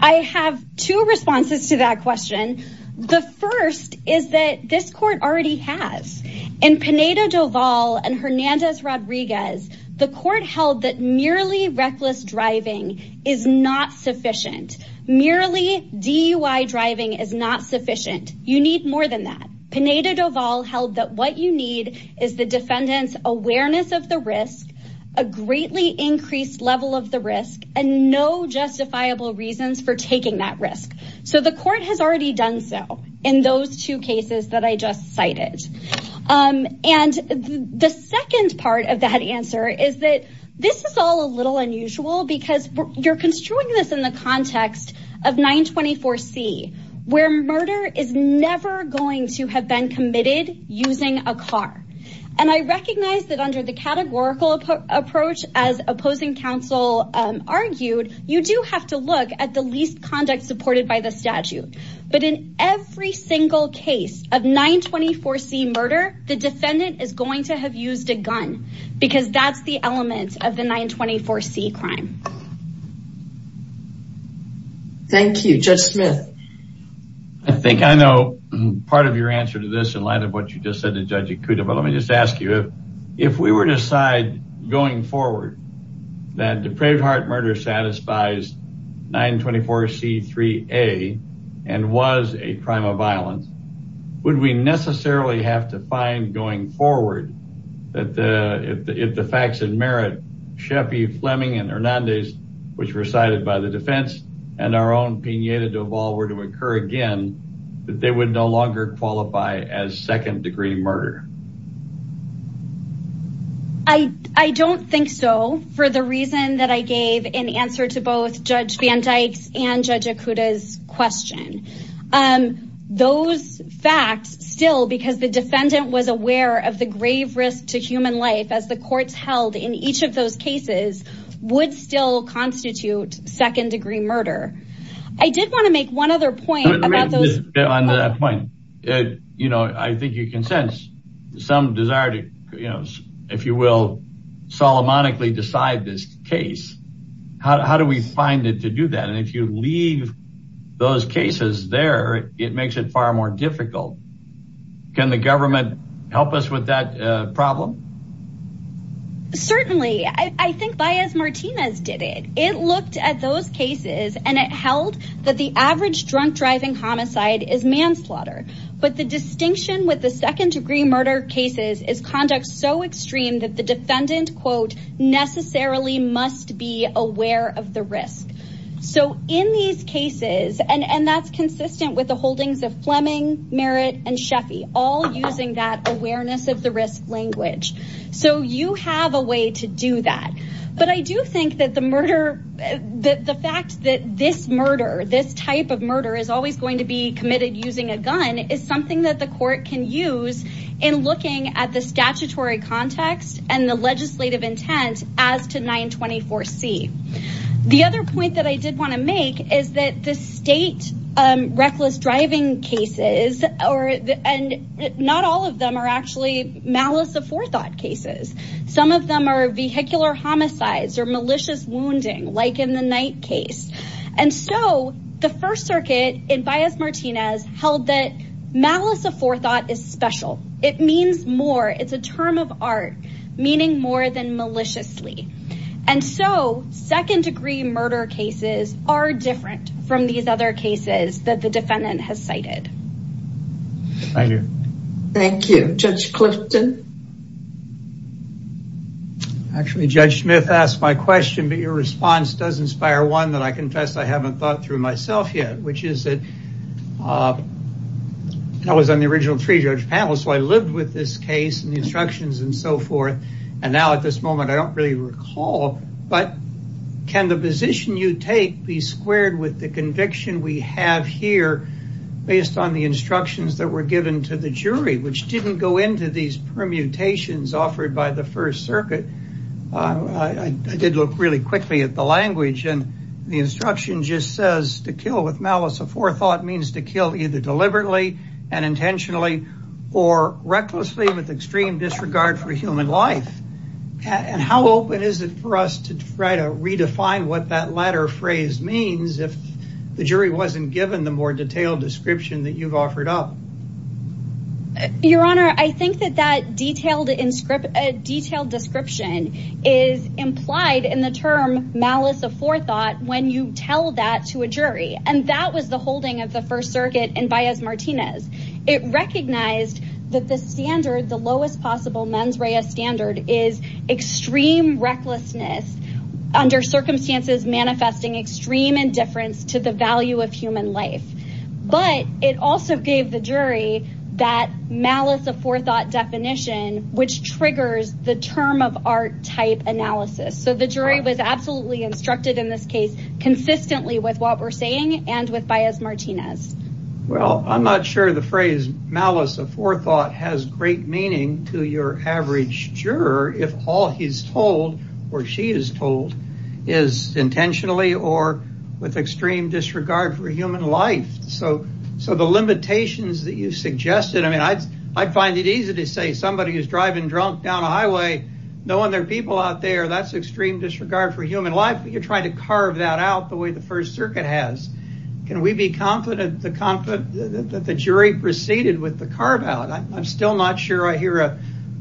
I have two responses to that question. The first is that this court already has in Pineda Doval and Hernandez Rodriguez. The court held that merely reckless driving is not sufficient. Merely DUI driving is not sufficient. You need more than that. Pineda Doval held that what you need is the defendant's awareness of the risk, a greatly increased level of the risk, and no justifiable reasons for taking that risk. So the court has already done so in those two cases that I just cited. And the second part of that answer is that this is all a little unusual because you're construing this in the context of 924 C, where murder is never going to have been committed using a car. And I recognize that under the categorical approach, as opposing counsel argued, you do have to look at the least conduct supported by the statute. But in every single case of 924 C murder, the defendant is going to have used a gun because that's the element of the 924 C crime. Thank you. Judge Smith. I think I know part of your answer to this in light of what you just said to Judge Ikuda, but let me just ask you, if we were to decide going forward that depraved heart murder satisfies 924 C 3A and was a crime of violence, would we necessarily have to find going forward that if the facts in merit, Sheffy, Fleming, and Hernandez, which were cited by the defense and our own Pineda Duval were to occur again, that they would no longer qualify as second degree murder? I don't think so for the reason that I gave in answer to both Judge Van Dyke's and Judge Fletcher's questions. I think you can sense some desire to, if you will, solomonically decide this case. How do we find it to do that? And if you leave those cases there, it makes it far more difficult. Can the government help us with that problem? Certainly. I think Baez Martinez did it. It looked at those cases and it held that the average drunk driving homicide is manslaughter. But the distinction with the second degree murder cases is conduct so extreme that the defendant quote, necessarily must be aware of the risk. So in these cases, and that's consistent with the holdings of Fleming, Merritt, and Sheffy, all using that awareness of the risk language. So you have a way to do that. But I do think that the fact that this murder, this type of murder is always going to be committed using a gun is something that the court can use in looking at the statutory context and the legislative intent as to 924C. The other point that I did want to make is that the state reckless driving cases, and not all of them are actually malice of forethought cases. Some of them are vehicular homicides or malicious wounding, like in the Knight case. And so the first circuit in Baez Martinez held that malice of forethought is special. It means more. It's a term of art, meaning more than maliciously. And so second degree murder cases are different from these other cases that the defendant has cited. Thank you. Thank you. Judge Clifton. Actually, Judge Smith asked my question, but your response does inspire one that I confess I haven't thought through myself yet, which is that I was on the original three judge panels. I lived with this case and the instructions and so forth. And now at this moment, I don't really recall. But can the position you take be squared with the conviction we have here based on the instructions that were given to the jury, which didn't go into these permutations offered by the first circuit? I did look really quickly at the language and the instruction just says to kill with malice of forethought means to kill either deliberately and intentionally or recklessly with extreme disregard for human life. And how open is it for us to try to redefine what that latter phrase means if the jury wasn't given the more detailed description that you've offered up? Your Honor, I think that that detailed description is implied in the term malice of forethought when you tell that to a jury. And that was the holding of the first circuit in Baez Martinez. It recognized that the standard, the lowest possible mens rea standard is extreme recklessness under circumstances manifesting extreme indifference to the value of human life. But it also gave the jury that malice of forethought definition, which triggers the term of art type analysis. So the jury was absolutely instructed in this case consistently with what we're saying and with Baez Martinez. Well, I'm not sure the phrase malice of forethought has great meaning to your average juror if all he's told or she is told is intentionally or with extreme disregard for human life. So the limitations that you suggested, I mean, I'd find it easy to say somebody who's driving drunk down a highway knowing there are people out there, that's extreme disregard for human life. You're trying to carve that out the way the first circuit has. Can we be confident that the jury proceeded with the carve out? I'm still not sure I hear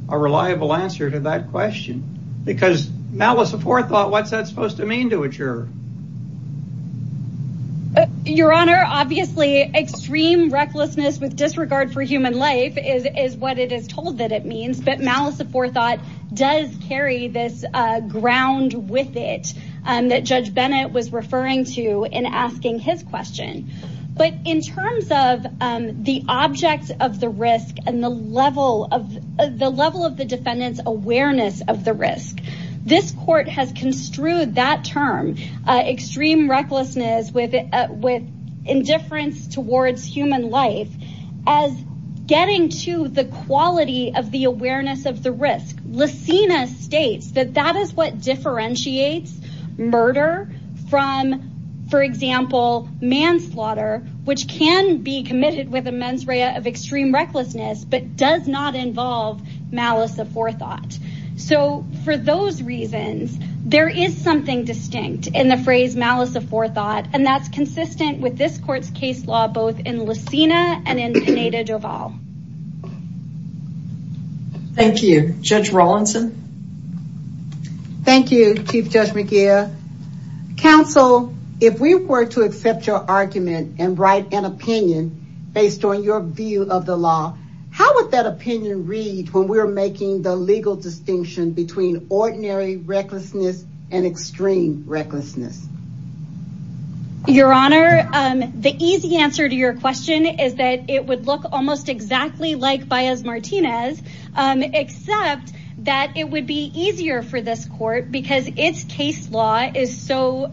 a reliable answer to that question because malice of forethought, what's that supposed to mean to a juror? Your Honor, obviously extreme recklessness with disregard for human life is what it is told that it means. But malice of forethought does carry this ground with it that Judge Bennett was referring to in asking his question. But in terms of the object of the risk and the level of the defendant's awareness of the risk, this court has construed that term, extreme of the risk. Lacina states that that is what differentiates murder from, for example, manslaughter, which can be committed with a mens rea of extreme recklessness, but does not involve malice of forethought. So for those reasons, there is something distinct in the phrase malice of forethought. And that's consistent with this court's case law, both in Lacina and in Pineda Valle. Thank you, Judge Rawlinson. Thank you, Chief Judge McGeer. Counsel, if we were to accept your argument and write an opinion based on your view of the law, how would that opinion read when we're making the legal distinction between ordinary recklessness and extreme recklessness? Your Honor, the easy answer to your question is that it would look almost exactly like Baez Martinez, except that it would be easier for this court because its case law is so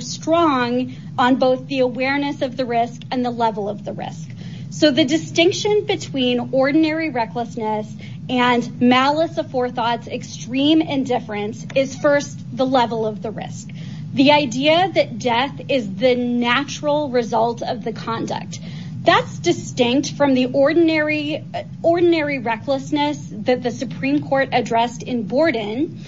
strong on both the awareness of the risk and the level of the risk. So the distinction between ordinary recklessness and malice of forethought's extreme indifference is first the level of the risk. The idea that death is the natural result of the conduct. That's distinct from the ordinary recklessness that the Supreme Court addressed in Borden,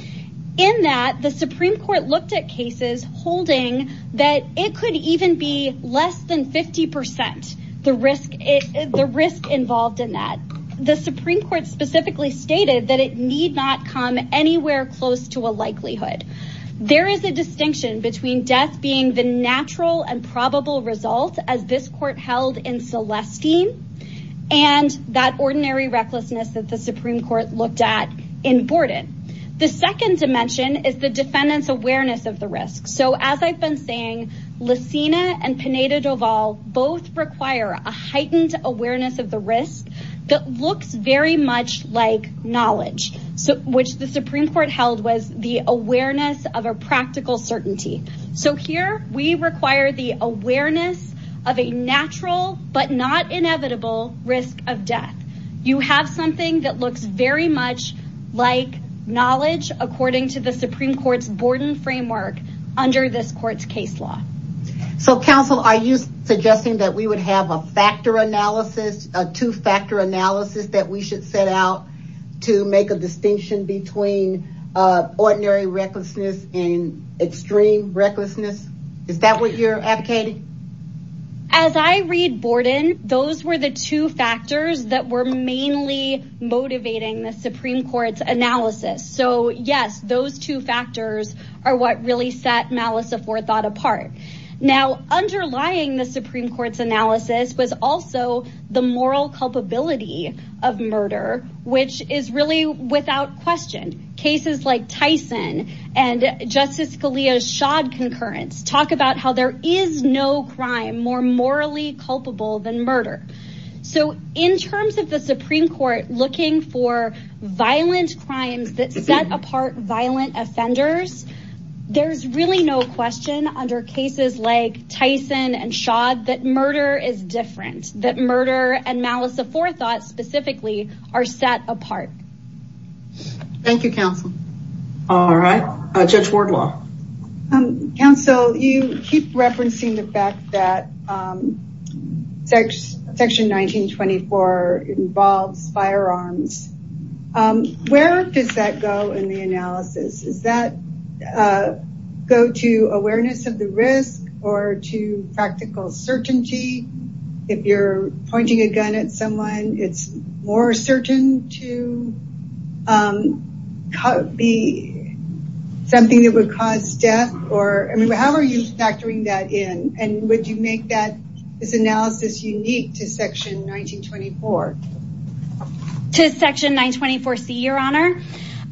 in that the Supreme Court looked at cases holding that it could even be less than 50% the risk involved in that. The Supreme Court specifically stated that it need not come anywhere close to a likelihood. There is a distinction between death being the natural and probable result as this court held in Celestine and that ordinary recklessness that the Supreme Court looked at in Borden. The second dimension is the defendant's awareness of the risk. So as I've been saying, Licina and Pineda Valle both require a heightened awareness of the risk that looks very much like knowledge, which the Supreme Court held was the awareness of a practical certainty. So here we require the awareness of a natural but not inevitable risk of death. You have something that looks very much like knowledge according to the Supreme Court's Borden framework under this court's case law. So counsel, are you suggesting that we would have a factor analysis, a two-factor analysis that we should set out to make a distinction between ordinary recklessness and extreme recklessness? Is that what you're advocating? As I read Borden, those were the two factors that were mainly motivating the Supreme Court's Now, underlying the Supreme Court's analysis was also the moral culpability of murder, which is really without question. Cases like Tyson and Justice Scalia's Shod concurrence talk about how there is no crime more morally culpable than murder. So in terms of the Supreme Court looking for violent crimes that set apart violent offenders, there's really no question under cases like Tyson and Shod that murder is different, that murder and malice of forethought specifically are set apart. Thank you, counsel. All right, Judge Wardlaw. Counsel, you keep referencing the fact that section 1924 involves firearms. Where does that go in the analysis? Does that go to awareness of the risk or to practical certainty? If you're pointing a gun at someone, it's more certain to be something that would cause death? How are you factoring that in? And would you make that analysis unique to section 1924? To section 924C, your honor?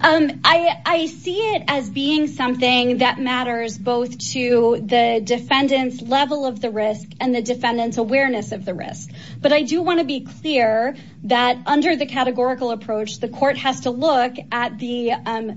I see it as being something that matters both to the defendant's level of the risk and the defendant's awareness of the risk. But I do want to be clear that under the categorical approach, the court has to look at the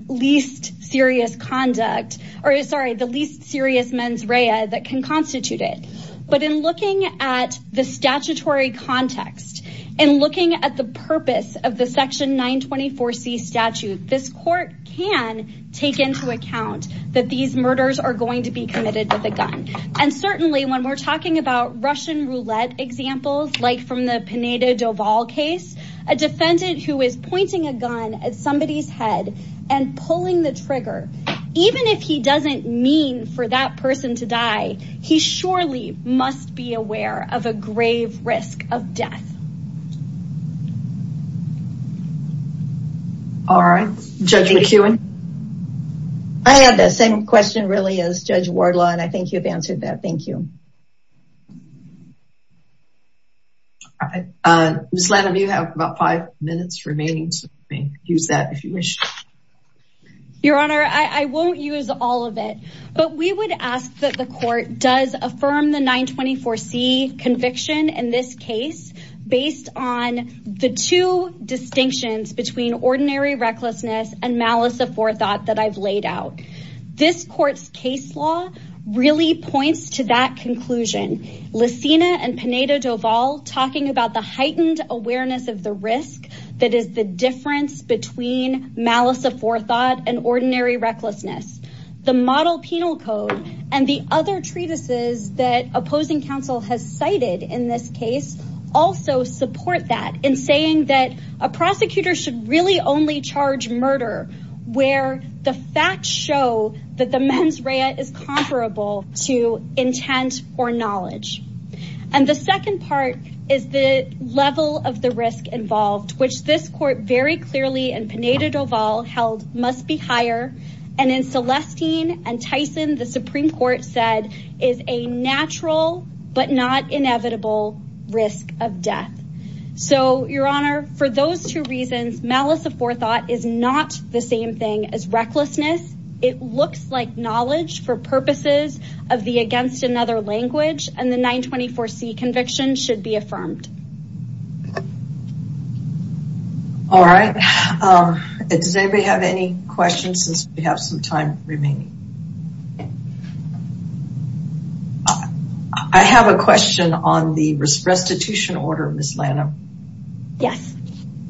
least serious conduct, or sorry, the least serious mens rea that can constitute it. But in looking at the statutory context and looking at the purpose of the section 924C statute, this court can take into account that these murders are going to be committed with a gun. And certainly when we're talking about Russian roulette examples, like from the Pineda Doval case, a defendant who is pointing a gun at somebody's head and pulling the trigger, even if he doesn't mean for that person to die, he surely must be aware of a grave risk of death. All right, Judge McEwen. I had the same question really as Judge Wardlaw and I think you've answered that. Thank you. Ms. Lanham, you have about five minutes remaining. Use that if you wish. Your Honor, I won't use all of it, but we would ask that the court does affirm the 924C conviction in this case based on the two distinctions between ordinary recklessness and malice aforethought that I've laid out. This court's case law really points to that conclusion. Lacina and Pineda Doval talking about the heightened awareness of the risk that is the difference between malice aforethought and ordinary recklessness. The model penal code and the other treatises that opposing counsel has cited in this case also support that in saying that a prosecutor should really only charge murder where the facts show that the mens rea is comparable to intent or knowledge. And the second part is the level of the risk involved, which this court very clearly and Pineda Doval held must be higher. And in Celestine and Tyson, the Supreme Court said is a natural but not inevitable risk of death. So, Your Honor, for those two reasons, malice aforethought is not the same thing as recklessness. It looks like knowledge for purposes of the against another language and the 924C conviction should be affirmed. All right. Does anybody have any questions since we have some time remaining? I have a question on the restitution order, Ms. Lanham. Yes.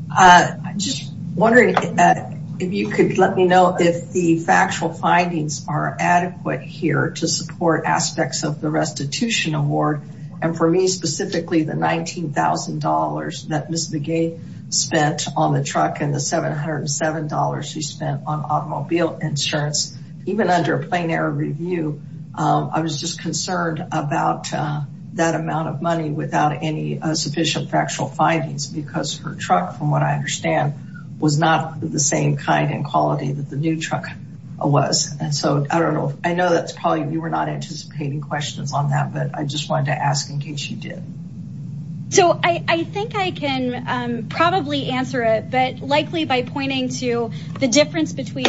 I'm just wondering if you could let me know if the factual findings are adequate here to support aspects of the restitution award. And for me specifically, the $19,000 that Ms. Begay spent on the truck and the $707 she spent on automobile insurance, even under a plain air review, I was just concerned about that amount of money without any sufficient factual findings because her truck, from what I understand, was not the same kind and quality that the new truck was. And so, I don't know. I know that's probably you were not anticipating questions on that, but I just wanted to ask in case you did. So, I think I can probably answer it, but likely by pointing to the difference between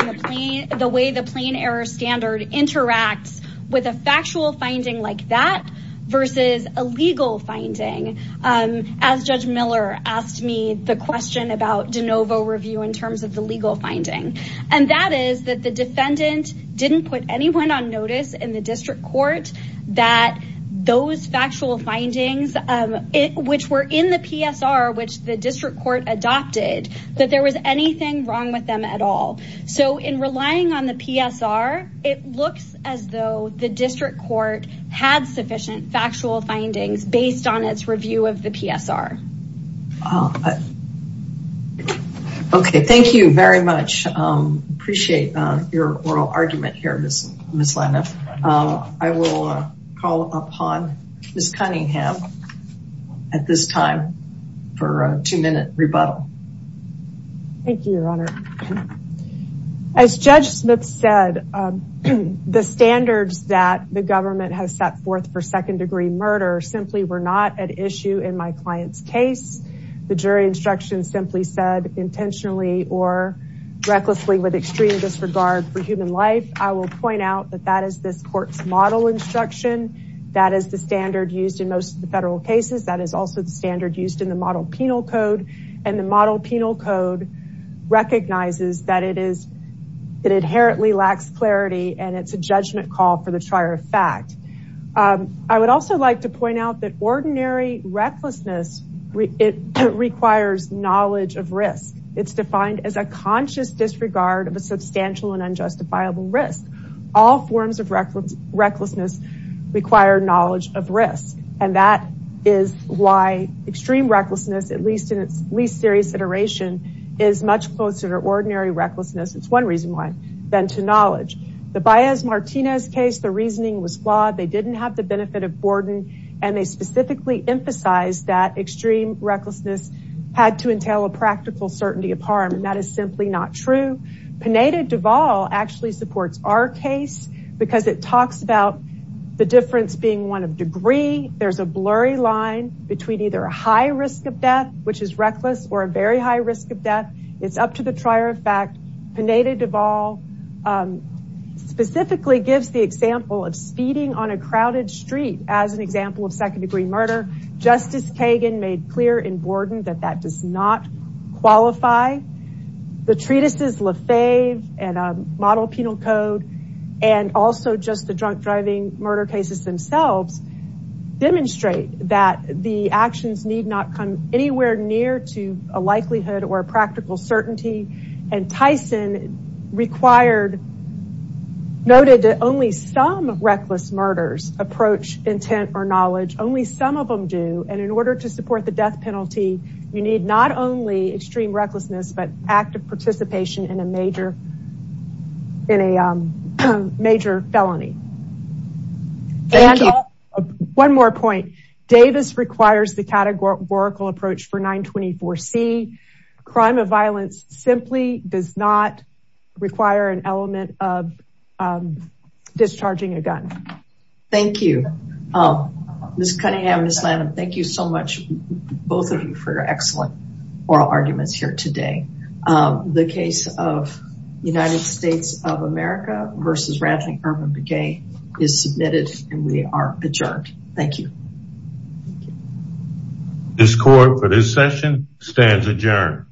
the way the plain air standard interacts with a factual finding like that versus a legal finding. As Judge Miller asked me the question about de novo review in terms of the legal finding. And that is that the defendant didn't put anyone on notice in the district court that those factual findings, which were in the PSR, which the district court adopted, that there was anything wrong with them at all. So, in relying on the PSR, it looks as though the district court had sufficient factual findings based on its review of the PSR. Okay. Thank you very much. Appreciate your oral argument here, Ms. Lena. I will call upon Ms. Cunningham at this time for a two-minute rebuttal. Thank you, Your Honor. As Judge Smith said, the standards that the government has set forth for second-degree murder simply were not at issue in my client's case. The jury instruction simply said intentionally or recklessly with extreme disregard for human life. I will point out that that is this court's model instruction. That is the standard used in most of the federal cases. That is also the standard used in the model penal code. And the model penal code recognizes that it inherently lacks clarity and it is a judgment call for the trier of fact. I would also like to point out that ordinary recklessness requires knowledge of risk. It is defined as a conscious disregard of a substantial and unjustifiable risk. All forms of recklessness require knowledge of risk. And that is why extreme recklessness, at least in its least serious iteration, is much closer to ordinary recklessness, it is one reason why, than to knowledge. The Baez-Martinez case, the reasoning was flawed. They didn't have the benefit of Borden. And they specifically emphasized that extreme recklessness had to entail a practical certainty of harm. And that is simply not true. Pineda-Duval actually supports our case because it talks about the difference being one of degree. There is a blurry line between either a high risk of death, which is reckless, or a very high risk of death. It is up to the trier of fact. Pineda-Duval specifically gives the example of speeding on a crowded street as an example of second degree murder. Justice Kagan made clear in Borden that that does not qualify. The treatises Lafave and model penal code and also just the drunk driving murder cases themselves demonstrate that the actions need not come anywhere near to a likelihood or a practical certainty. And Tyson noted that only some reckless murders approach intent or knowledge, only some of them do. And in order to support the death penalty, you need not only extreme recklessness, but active participation in a major felony. And one more point, Davis requires the categorical approach for 924C. Crime of violence simply does not require an element of discharging a gun. Thank you. Ms. Cunningham, Ms. Lanham, thank you so much, both of you, for your excellent oral arguments here today. The case of United States of America versus Radley Urban is submitted and we are adjourned. Thank you. This court for this session stands adjourned.